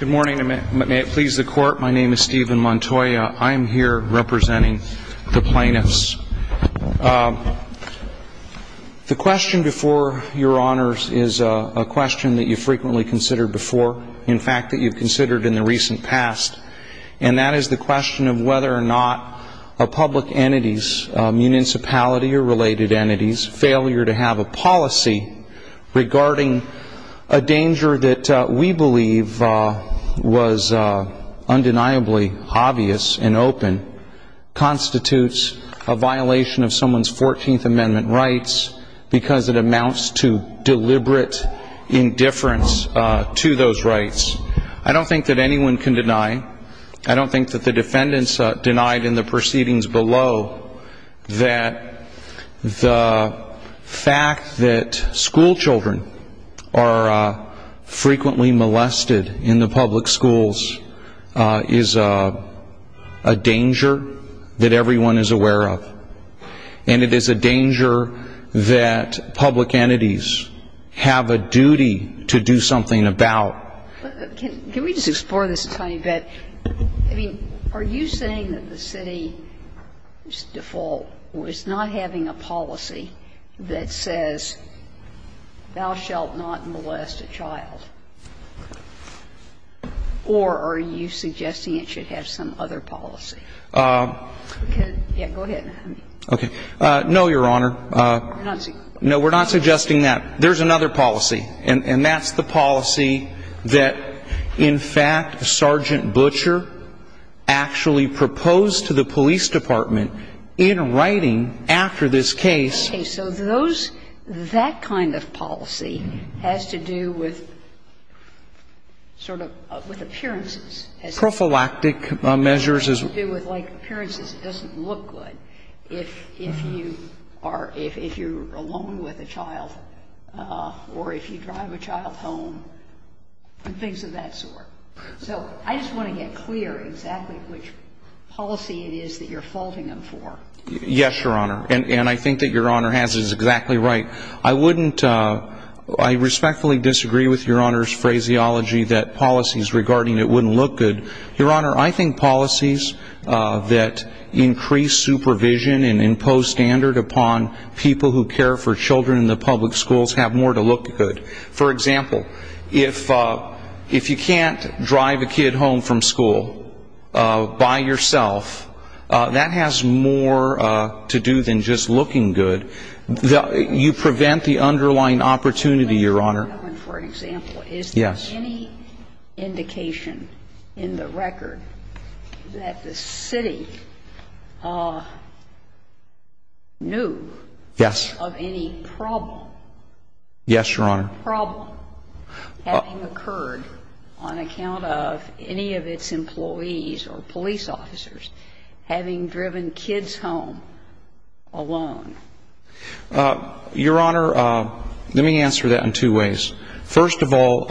Good morning. May it please the Court, my name is Stephen Montoya. I am here representing the plaintiffs. The question before Your Honors is a question that you've frequently considered before, in fact, that you've considered in the recent past, and that is the question of whether or not public entities, municipality or related entities, failure to have a policy regarding a danger that we believe was undeniably obvious and open, constitutes a violation of someone's 14th Amendment rights because it amounts to deliberate indifference to those rights. I don't think that anyone can deny, I don't think that the defendants denied in the proceedings below, that the fact that schoolchildren are frequently molested in the public schools is a danger that everyone is aware of. And it is a danger that public entities have a duty to do something about. Can we just explore this a tiny bit? I mean, are you saying that the city's default was not having a policy that says, thou shalt not molest a child? Or are you suggesting it should have some other policy? Yeah, go ahead. Okay. No, Your Honor. We're not suggesting that. No, we're not suggesting that. There's another policy, and that's the policy that, in fact, Sergeant Butcher actually proposed to the police department in writing after this case. Okay. So those, that kind of policy has to do with sort of with appearances. Prophylactic measures. It has to do with, like, appearances. It doesn't look good if you are, if you're alone with a child or if you drive a child home and things of that sort. So I just want to get clear exactly which policy it is that you're faulting them for. Yes, Your Honor. And I think that Your Honor has it exactly right. I wouldn't, I respectfully disagree with Your Honor's phraseology that policies regarding it wouldn't look good. Your Honor, I think policies that increase supervision and impose standard upon people who care for children in the public schools have more to look good. For example, if you can't drive a kid home from school by yourself, that has more to do than just looking good. You prevent the underlying opportunity, Your Honor. For example, is there any indication in the record that the city knew of any problem? Yes, Your Honor. Your Honor, let me answer that in two ways. First of all,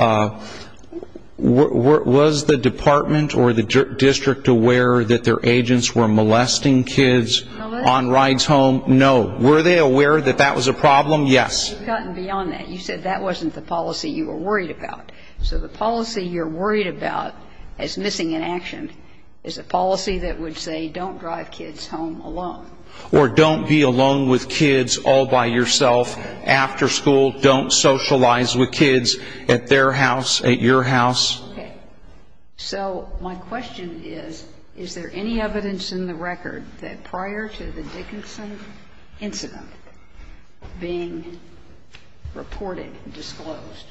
was the department or the district aware that their agents were molesting kids on rides home? No. Were they aware that that was a problem? Yes. You said that wasn't a problem. So the policy you're worried about as missing in action is a policy that would say don't drive kids home alone. Or don't be alone with kids all by yourself after school, don't socialize with kids at their house, at your house. Okay. So my question is, is there any evidence in the record that prior to the Dickinson incident being reported and disclosed,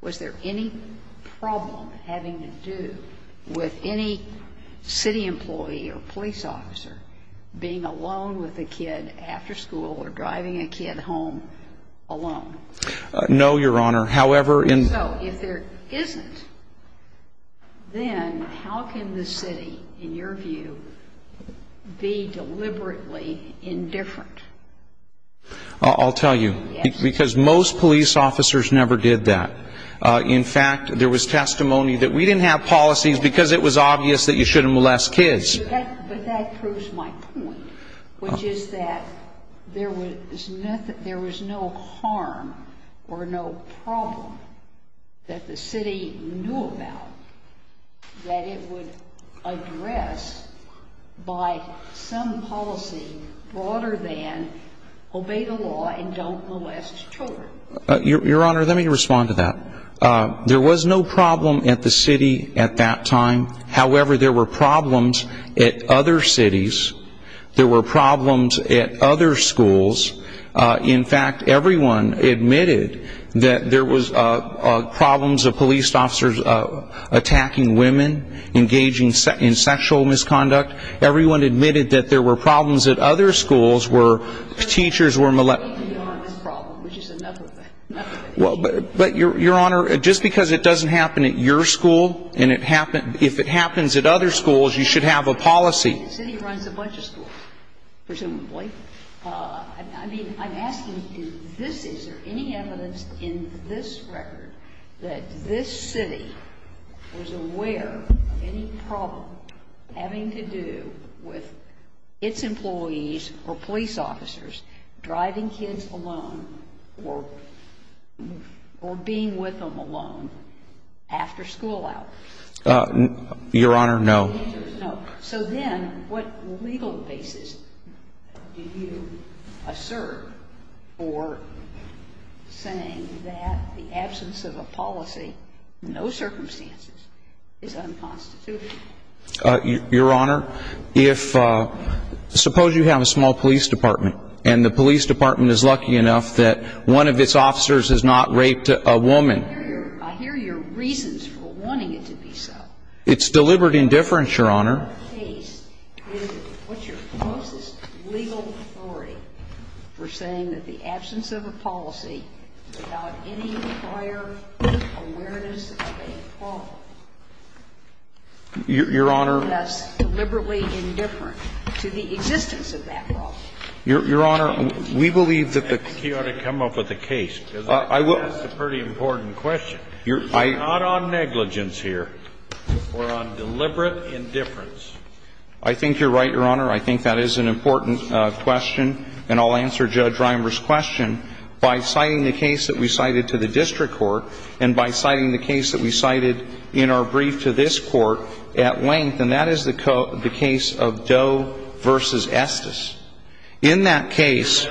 was there any problem having to do with any city employee or police officer being alone with a kid after school or driving a kid home alone? No, Your Honor. However, in the case of Dickinson, there was no problem. Then how can the city, in your view, be deliberately indifferent? I'll tell you. Yes. Because most police officers never did that. In fact, there was testimony that we didn't have policies because it was obvious that you shouldn't molest kids. But that proves my point, which is that there was no harm or no problem that the city knew about that it would address by some policy broader than obey the law and don't molest children. Your Honor, let me respond to that. There was no problem at the city at that time. However, there were problems at other cities. There were problems at other schools. In fact, everyone admitted that there was problems of police officers attacking women, engaging in sexual misconduct. Everyone admitted that there were problems at other schools where teachers were molested. Your Honor, just because it doesn't happen at your school, and if it happens at other schools, you should have a policy. The city runs a bunch of schools, presumably. I mean, I'm asking is there any evidence in this record that this city was aware of any problem having to do with its employees driving kids alone or being with them alone after school hours? Your Honor, no. So then what legal basis do you assert for saying that the absence of a policy, no circumstances, is unconstitutional? Your Honor, suppose you have a small police department and the police department is lucky enough that one of its officers has not raped a woman. I hear your reasons for wanting it to be so. It's deliberate indifference, Your Honor. Your Honor, we believe that the key ought to come up with a case. That's a pretty important question. It's not on negligence here. We're on deliberate indifference. I think you're right, Your Honor. I think that is an important question, and I'll answer Judge Reimers' question by citing the case that we cited to the district court and by citing the case that we cited in our brief to this court at length, and that is the case of Doe v. Estes. In that case,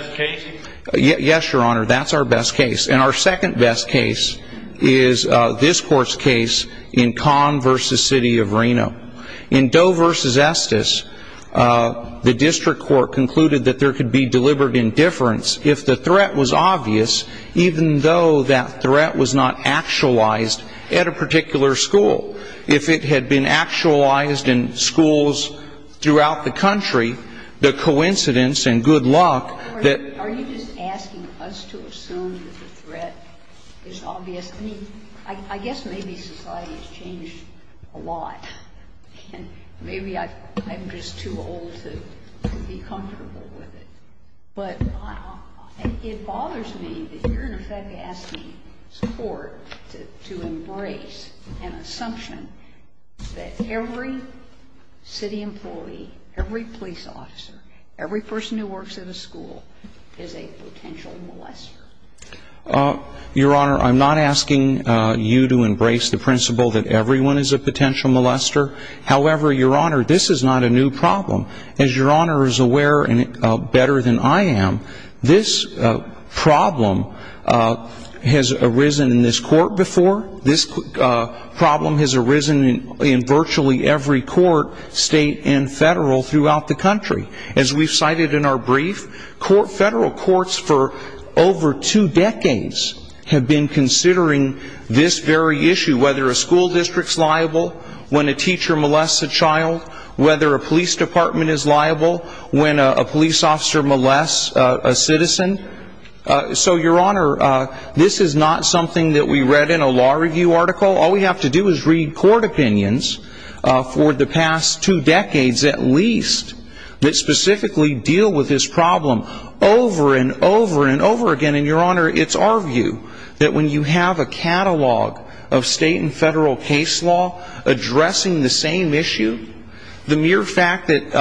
yes, Your Honor, that's our best case. And our second best case is this court's case in Kahn v. City of Reno. In Doe v. Estes, the district court concluded that there could be deliberate indifference if the threat was obvious, even though that threat was not actualized at a particular school. If it had been actualized in schools throughout the country, the coincidence and good luck that ---- Are you just asking us to assume that the threat is obvious? I mean, I guess maybe society has changed a lot, and maybe I'm just too old to be comfortable with it. But it bothers me that you're, in effect, asking the court to embrace an assumption that every city employee, every police officer, every person who works at a school is a potential molester. Your Honor, I'm not asking you to embrace the principle that everyone is a potential molester. However, Your Honor, this is not a new problem. As Your Honor is aware better than I am, this problem has arisen in this court before. This problem has arisen in virtually every court, state and federal, throughout the country. As we've cited in our brief, federal courts for over two decades have been considering this very issue, whether a school district is liable when a teacher molests a child, whether a police department is liable when a police officer molests a citizen. So, Your Honor, this is not something that we read in a law review article. All we have to do is read court opinions for the past two decades, at least, that specifically deal with this problem over and over and over again. And Your Honor, it's our view that when you have a catalog of state and federal case law addressing the same issue, the mere fact that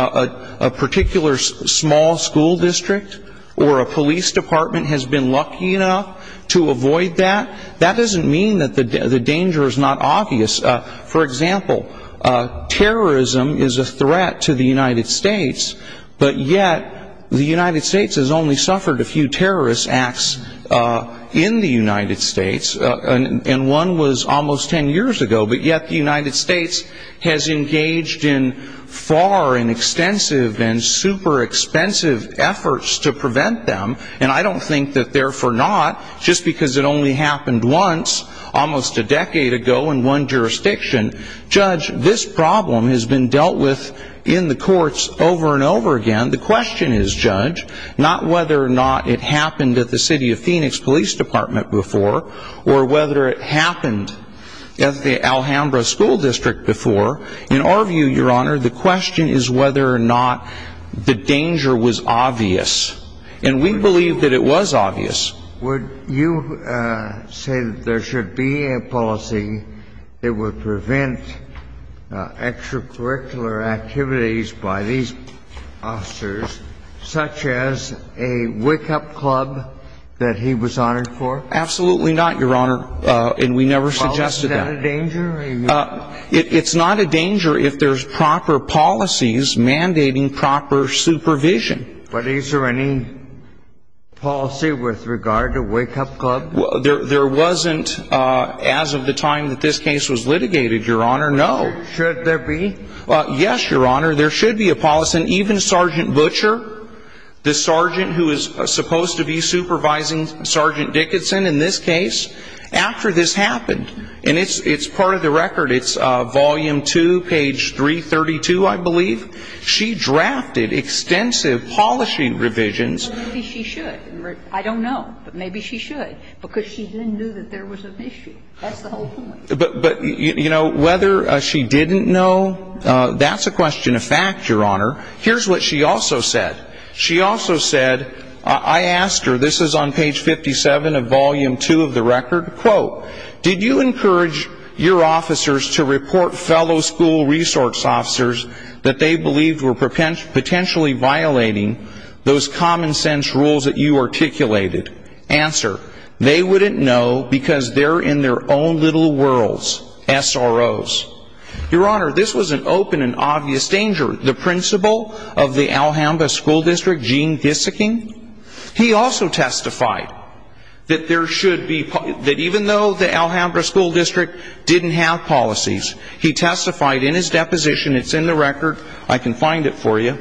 a particular small school district or a police department has been lucky enough to avoid that, that doesn't mean that the danger is not obvious. For example, terrorism is a threat to the United States, but yet the United States has only suffered a few terrorist acts in the United States, and one was almost ten years ago, but yet the United States has engaged in far and extensive and super expensive efforts to prevent them, and I don't think that therefore not, just because it only happened once, almost a decade ago in one jurisdiction, Judge, this problem has been dealt with in the courts over and over again. The question is, Judge, not whether or not it happened at the City of Phoenix Police Department before or whether it happened at the Alhambra School District before. In our view, Your Honor, the question is whether or not the danger was obvious, and we believe that it was obvious. Would you say that there should be a policy that would prevent extracurricular activities by these officers, such as a wake-up club that he was honored for? Absolutely not, Your Honor, and we never suggested that. Is that a danger? It's not a danger if there's proper policies mandating proper supervision. But is there any policy with regard to wake-up clubs? There wasn't as of the time that this case was litigated, Your Honor, no. Should there be? Yes, Your Honor, there should be a policy, and even Sergeant Butcher, the sergeant who is supposed to be supervising Sergeant Dickinson in this case, after this happened, and it's part of the record. It's Volume 2, page 332, I believe. She drafted extensive polishing revisions. Well, maybe she should. I don't know, but maybe she should because she didn't know that there was an issue. That's the whole point. But, you know, whether she didn't know, that's a question of fact, Your Honor. Here's what she also said. She also said, I asked her, this is on page 57 of Volume 2 of the record, quote, did you encourage your officers to report fellow school resource officers that they believed were potentially violating those common-sense rules that you articulated? Answer, they wouldn't know because they're in their own little worlds, SROs. Your Honor, this was an open and obvious danger. The principal of the Alhambra School District, Gene Disicking, he also testified that even though the Alhambra School District didn't have policies, he testified in his deposition. It's in the record. I can find it for you.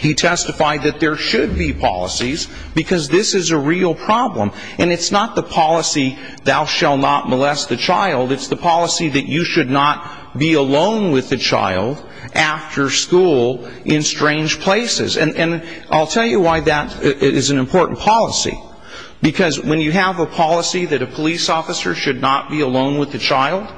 He testified that there should be policies because this is a real problem, and it's not the policy thou shall not molest the child. It's the policy that you should not be alone with the child after school in strange places. And I'll tell you why that is an important policy. Because when you have a policy that a police officer should not be alone with the child,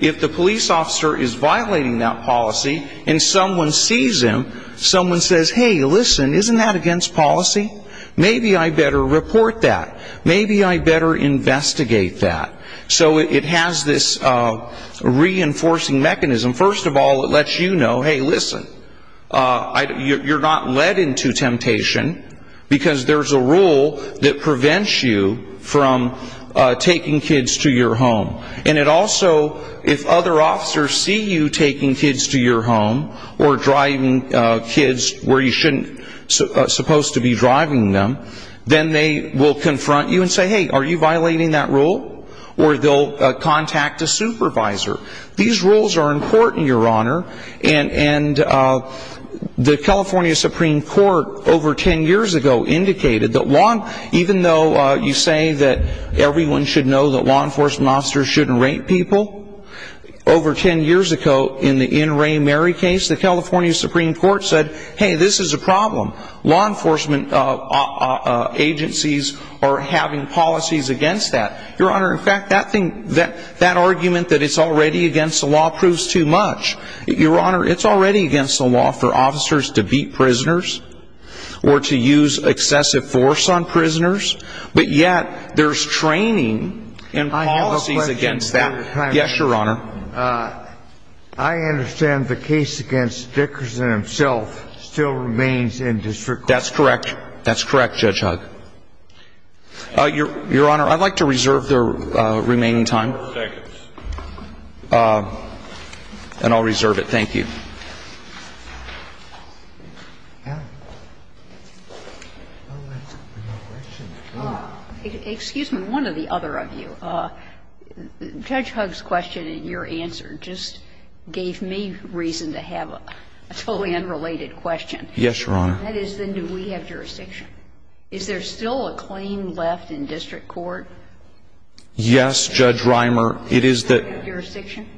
if the police officer is violating that policy and someone sees him, someone says, hey, listen, isn't that against policy? Maybe I better report that. Maybe I better investigate that. So it has this reinforcing mechanism. First of all, it lets you know, hey, listen, you're not led into temptation because there's a rule that prevents you from taking kids to your home. And it also, if other officers see you taking kids to your home or driving kids where you shouldn't supposed to be driving them, then they will confront you and say, hey, are you violating that rule? Or they'll contact a supervisor. These rules are important, Your Honor. And the California Supreme Court over ten years ago indicated that even though you say that everyone should know that law enforcement officers shouldn't rape people, over ten years ago in the Ann Rae Mary case, the California Supreme Court said, hey, this is a problem. Law enforcement agencies are having policies against that. Your Honor, in fact, that argument that it's already against the law proves too much. Your Honor, it's already against the law for officers to beat prisoners or to use excessive force on prisoners, but yet there's training and policies against that. Yes, Your Honor. I understand the case against Dickerson himself still remains in district court. That's correct. That's correct, Judge Hugg. Your Honor, I'd like to reserve the remaining time. Thank you. And I'll reserve it. Thank you. Excuse me. One of the other of you. Judge Hugg's question and your answer just gave me reason to have a totally unrelated question. Yes, Your Honor. That is, then do we have jurisdiction? Is there still a claim left in district court? Yes, Judge Reimer. Is there jurisdiction?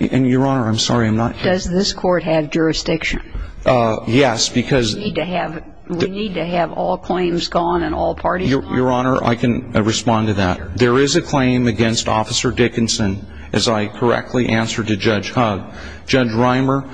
And, Your Honor, I'm sorry, I'm not. Does this court have jurisdiction? Yes, because. We need to have all claims gone and all parties gone. Your Honor, I can respond to that. There is a claim against Officer Dickinson, as I correctly answered to Judge Hugg. Judge Reimer,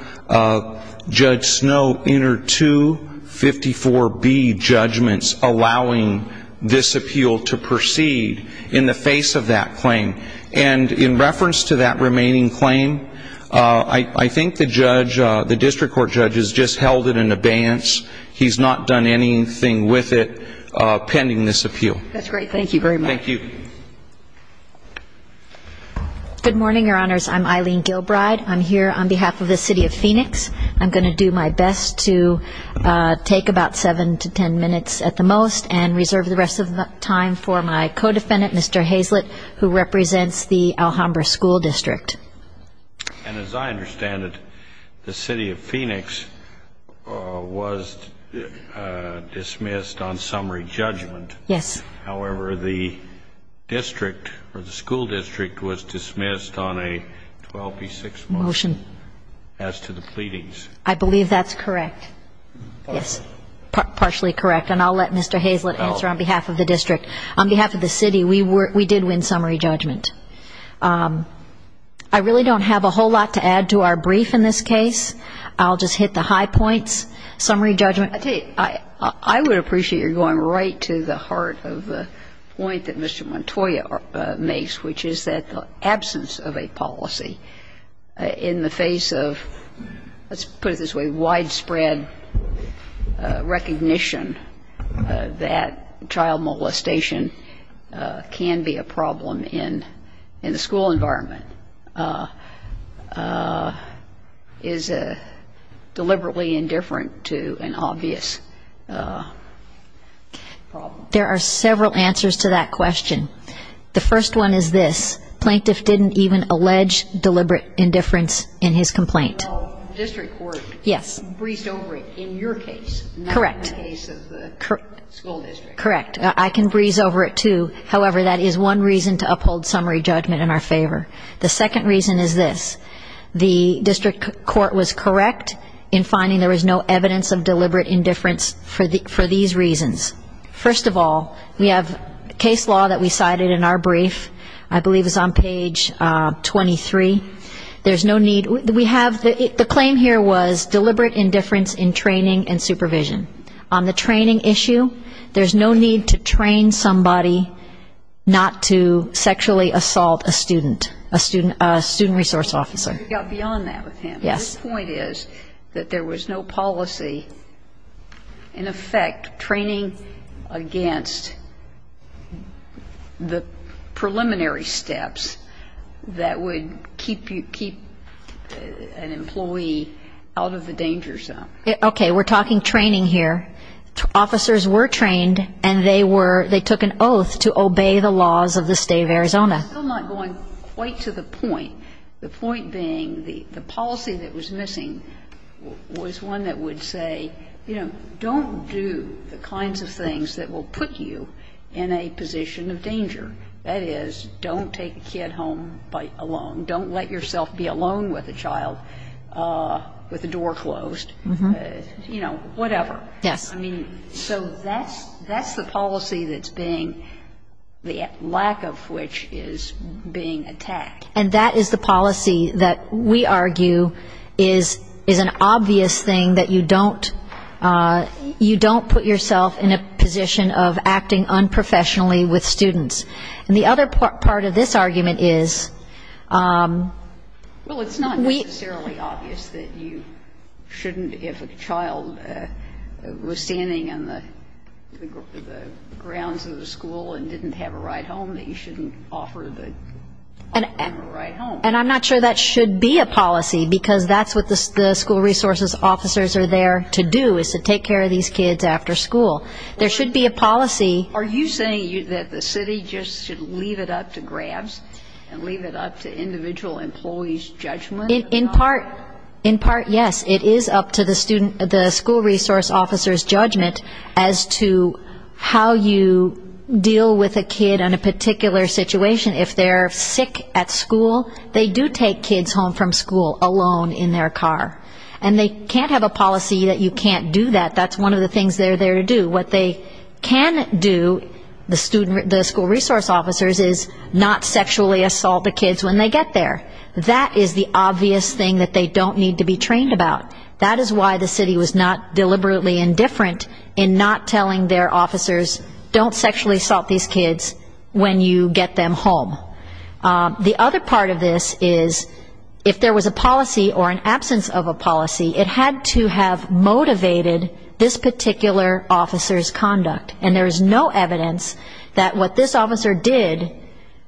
Judge Snow entered two 54B judgments allowing this appeal to proceed in the face of that claim. And in reference to that remaining claim, I think the judge, the district court judge, has just held it in abeyance. He's not done anything with it pending this appeal. That's great. Thank you very much. Thank you. Good morning, Your Honors. I'm Eileen Gilbride. I'm here on behalf of the city of Phoenix. I'm going to do my best to take about seven to ten minutes at the most and reserve the rest of the time for my co-defendant, Mr. Hazlett, who represents the Alhambra School District. And as I understand it, the city of Phoenix was dismissed on summary judgment. Yes. However, the district or the school district was dismissed on a 12B6 motion as to the pleadings. I believe that's correct. Yes. Partially correct. And I'll let Mr. Hazlett answer on behalf of the district. On behalf of the city, we did win summary judgment. I really don't have a whole lot to add to our brief in this case. I'll just hit the high points. Summary judgment. I tell you, I would appreciate your going right to the heart of the point that Mr. Montoya makes, which is that the absence of a policy in the face of, let's put it this way, widespread recognition that child molestation can be a problem in the school environment, is deliberately indifferent to an obvious problem. There are several answers to that question. The first one is this. Plaintiff didn't even allege deliberate indifference in his complaint. The district court breezed over it in your case, not in the case of the school district. Correct. I can breeze over it, too. However, that is one reason to uphold summary judgment in our favor. The second reason is this. The district court was correct in finding there was no evidence of deliberate indifference for these reasons. First of all, we have case law that we cited in our brief. I believe it's on page 23. There's no need. The claim here was deliberate indifference in training and supervision. On the training issue, there's no need to train somebody not to sexually assault a student, a student resource officer. You got beyond that with him. Yes. The point is that there was no policy, in effect, training against the preliminary steps that would keep an employee out of the danger zone. Okay. We're talking training here. Officers were trained, and they were they took an oath to obey the laws of the State of Arizona. I'm still not going quite to the point, the point being the policy that was missing was one that would say, you know, don't do the kinds of things that will put you in a position of danger. That is, don't take a kid home alone. Don't let yourself be alone with a child with the door closed. You know, whatever. Yes. I mean, so that's the policy that's being, the lack of which is being attacked. And that is the policy that we argue is an obvious thing that you don't put yourself in a position of acting unprofessionally with students. And the other part of this argument is we. Well, it's not necessarily obvious that you shouldn't, if a child was standing on the grounds of the school and didn't have a right home, that you shouldn't offer them a right home. And I'm not sure that should be a policy, because that's what the school resources officers are there to do is to take care of these kids after school. There should be a policy. Are you saying that the city just should leave it up to grabs and leave it up to individual employees' judgment? In part, yes. It is up to the school resource officers' judgment as to how you deal with a kid in a particular situation. If they're sick at school, they do take kids home from school alone in their car. And they can't have a policy that you can't do that. That's one of the things they're there to do. What they can do, the school resource officers, is not sexually assault the kids when they get there. That is the obvious thing that they don't need to be trained about. That is why the city was not deliberately indifferent in not telling their officers, don't sexually assault these kids when you get them home. The other part of this is if there was a policy or an absence of a policy, it had to have motivated this particular officer's conduct. And there is no evidence that what this officer did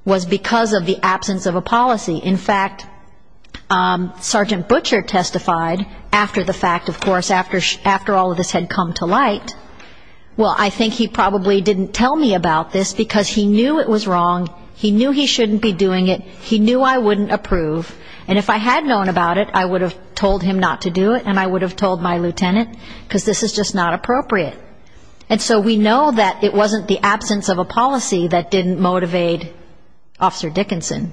was because of the absence of a policy. In fact, Sergeant Butcher testified after the fact, of course, after all of this had come to light, well, I think he probably didn't tell me about this because he knew it was wrong, he knew he shouldn't be doing it, he knew I wouldn't approve. And if I had known about it, I would have told him not to do it and I would have told my lieutenant because this is just not appropriate. And so we know that it wasn't the absence of a policy that didn't motivate Officer Dickinson.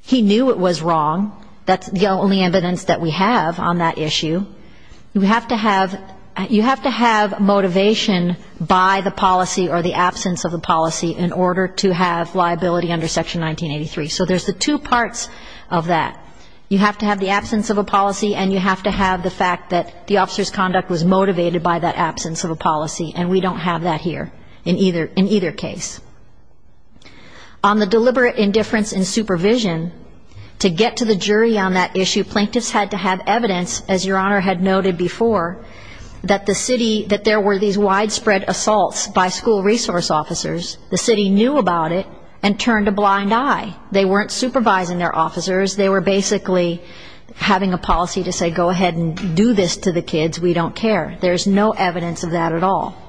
He knew it was wrong. That's the only evidence that we have on that issue. You have to have motivation by the policy or the absence of the policy in order to have liability under Section 1983. So there's the two parts of that. You have to have the absence of a policy and you have to have the fact that the officer's conduct was motivated by that absence of a policy, and we don't have that here in either case. On the deliberate indifference in supervision, to get to the jury on that issue, plaintiffs had to have evidence, as Your Honor had noted before, that the city, that there were these widespread assaults by school resource officers, the city knew about it and turned a blind eye. They weren't supervising their officers. They were basically having a policy to say go ahead and do this to the kids, we don't care. There's no evidence of that at all.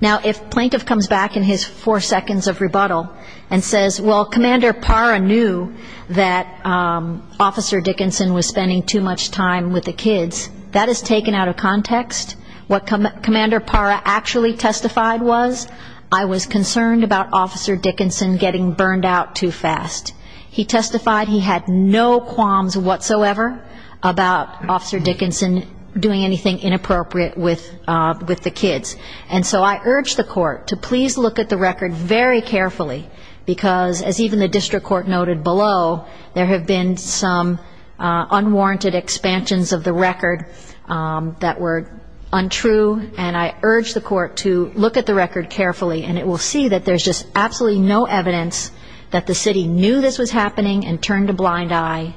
Now, if a plaintiff comes back in his four seconds of rebuttal and says, well, Commander Parra knew that Officer Dickinson was spending too much time with the kids, that is taken out of context. What Commander Parra actually testified was, I was concerned about Officer Dickinson getting burned out too fast. He testified he had no qualms whatsoever about Officer Dickinson doing anything inappropriate with the kids. And so I urge the court to please look at the record very carefully, because as even the district court noted below, there have been some unwarranted expansions of the record that were untrue. And I urge the court to look at the record carefully, and it will see that there's just absolutely no evidence that the city knew this was happening and turned a blind eye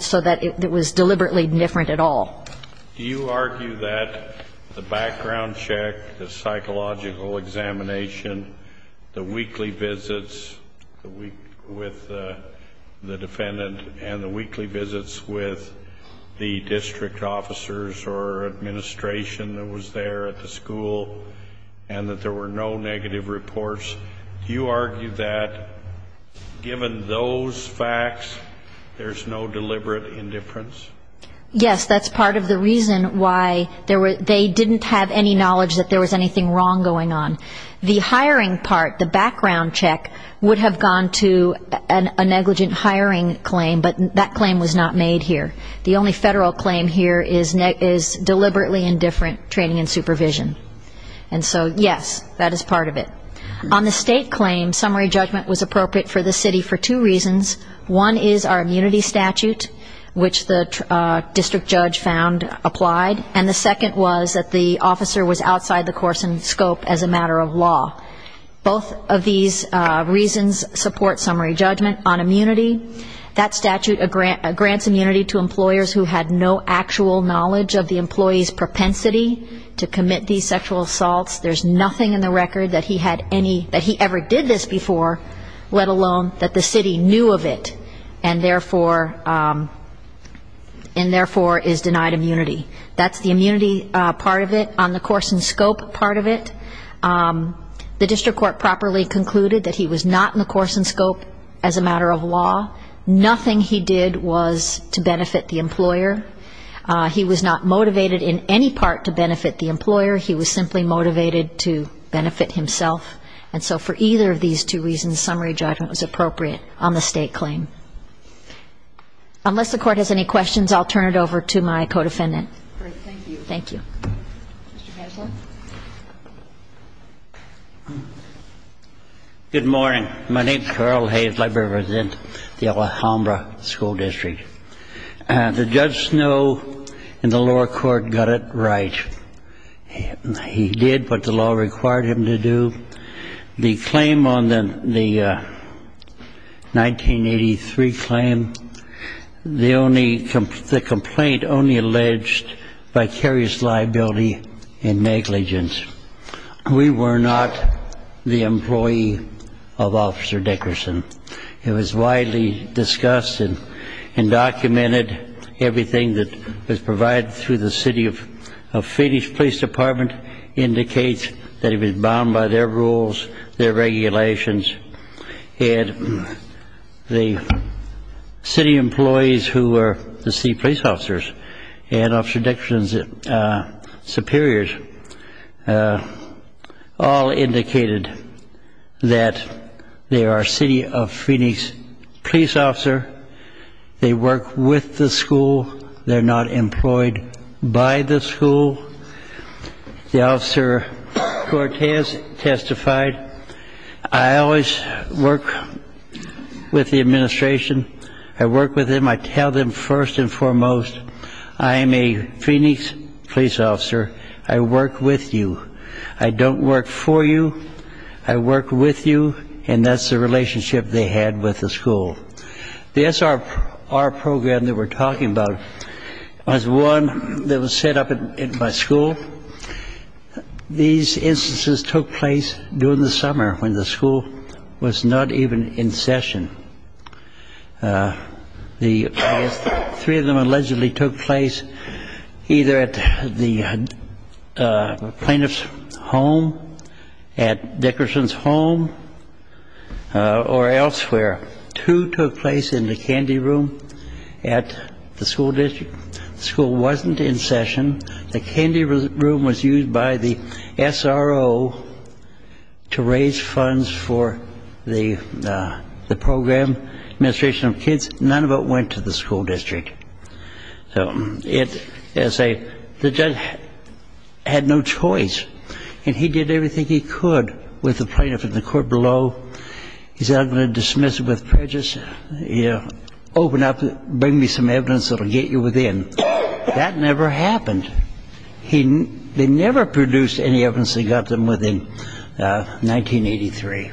so that it was deliberately different at all. Do you argue that the background check, the psychological examination, the weekly visits with the defendant and the weekly visits with the district officers or administration that was there at the school, and that there were no negative reports, do you argue that given those facts, there's no deliberate indifference? Yes, that's part of the reason why they didn't have any knowledge that there was anything wrong going on. The hiring part, the background check, would have gone to a negligent hiring claim, but that claim was not made here. The only federal claim here is deliberately indifferent training and supervision. And so, yes, that is part of it. On the state claim, summary judgment was appropriate for the city for two reasons. One is our immunity statute, which the district judge found applied, and the second was that the officer was outside the course and scope as a matter of law. Both of these reasons support summary judgment on immunity. That statute grants immunity to employers who had no actual knowledge of the employee's propensity to commit these sexual assaults. There's nothing in the record that he had any, that he ever did this before, let alone that the city knew of it, and therefore is denied immunity. That's the immunity part of it. On the course and scope part of it, the district court properly concluded that he was not in the course and scope as a matter of law. Nothing he did was to benefit the employer. He was not motivated in any part to benefit the employer. He was simply motivated to benefit himself. And so for either of these two reasons, summary judgment was appropriate on the state claim. Unless the Court has any questions, I'll turn it over to my co-defendant. Great. Thank you. Thank you. Mr. Kessler. Good morning. My name is Carl Hayes. I represent the Alhambra School District. The Judge Snow in the lower court got it right. He did what the law required him to do. The claim on the 1983 claim, the complaint only alleged vicarious liability and negligence. We were not the employee of Officer Dickerson. It was widely discussed and documented. Everything that was provided through the city of Phoenix Police Department indicates that it was bound by their rules, their regulations. And the city employees who were the city police officers and Officer Dickerson's superiors all indicated that they are city of Phoenix police officer. They work with the school. They're not employed by the school. The Officer Cortez testified, I always work with the administration. I work with them. I tell them first and foremost, I am a Phoenix police officer. I work with you. I don't work for you. I work with you. And that's the relationship they had with the school. The SRR program that we're talking about was one that was set up at my school. These instances took place during the summer when the school was not even in session. Three of them allegedly took place either at the plaintiff's home, at Dickerson's home, or elsewhere. Two took place in the candy room at the school district. The school wasn't in session. The candy room was used by the SRO to raise funds for the program, administration of kids. None of it went to the school district. So it is a judge had no choice. And he did everything he could with the plaintiff and the court below. He said, I'm going to dismiss it with prejudice. Open up, bring me some evidence that will get you within. That never happened. They never produced any evidence that got them within 1983.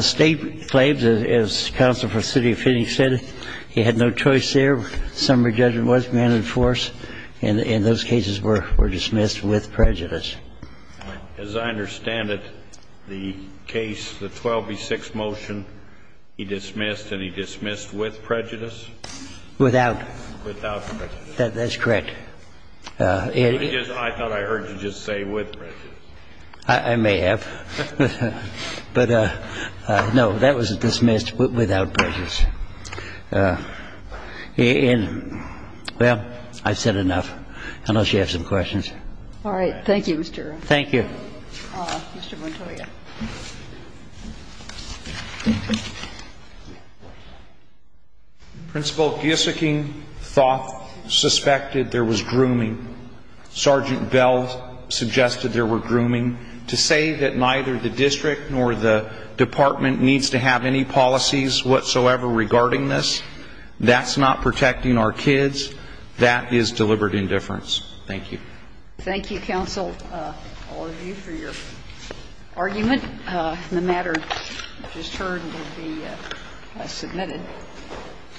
State claims, as counsel for the city of Phoenix said, he had no choice there. Summary judgment was granted in force, and those cases were dismissed with prejudice. As I understand it, the case, the 12B6 motion, he dismissed and he dismissed with prejudice? Without. Without prejudice. That's correct. I thought I heard you just say with prejudice. I may have. But, no, that was dismissed without prejudice. And, well, I've said enough. Unless you have some questions. All right. Thank you, Mr. Rafferty. Thank you. Mr. Montoya. Principal Gieseking thought, suspected there was grooming. Sergeant Bell suggested there were grooming. To say that neither the district nor the department needs to have any policies whatsoever regarding this, that's not protecting our kids. That is deliberate indifference. Thank you. Thank you, counsel, all of you, for your argument. The matter just heard will be submitted.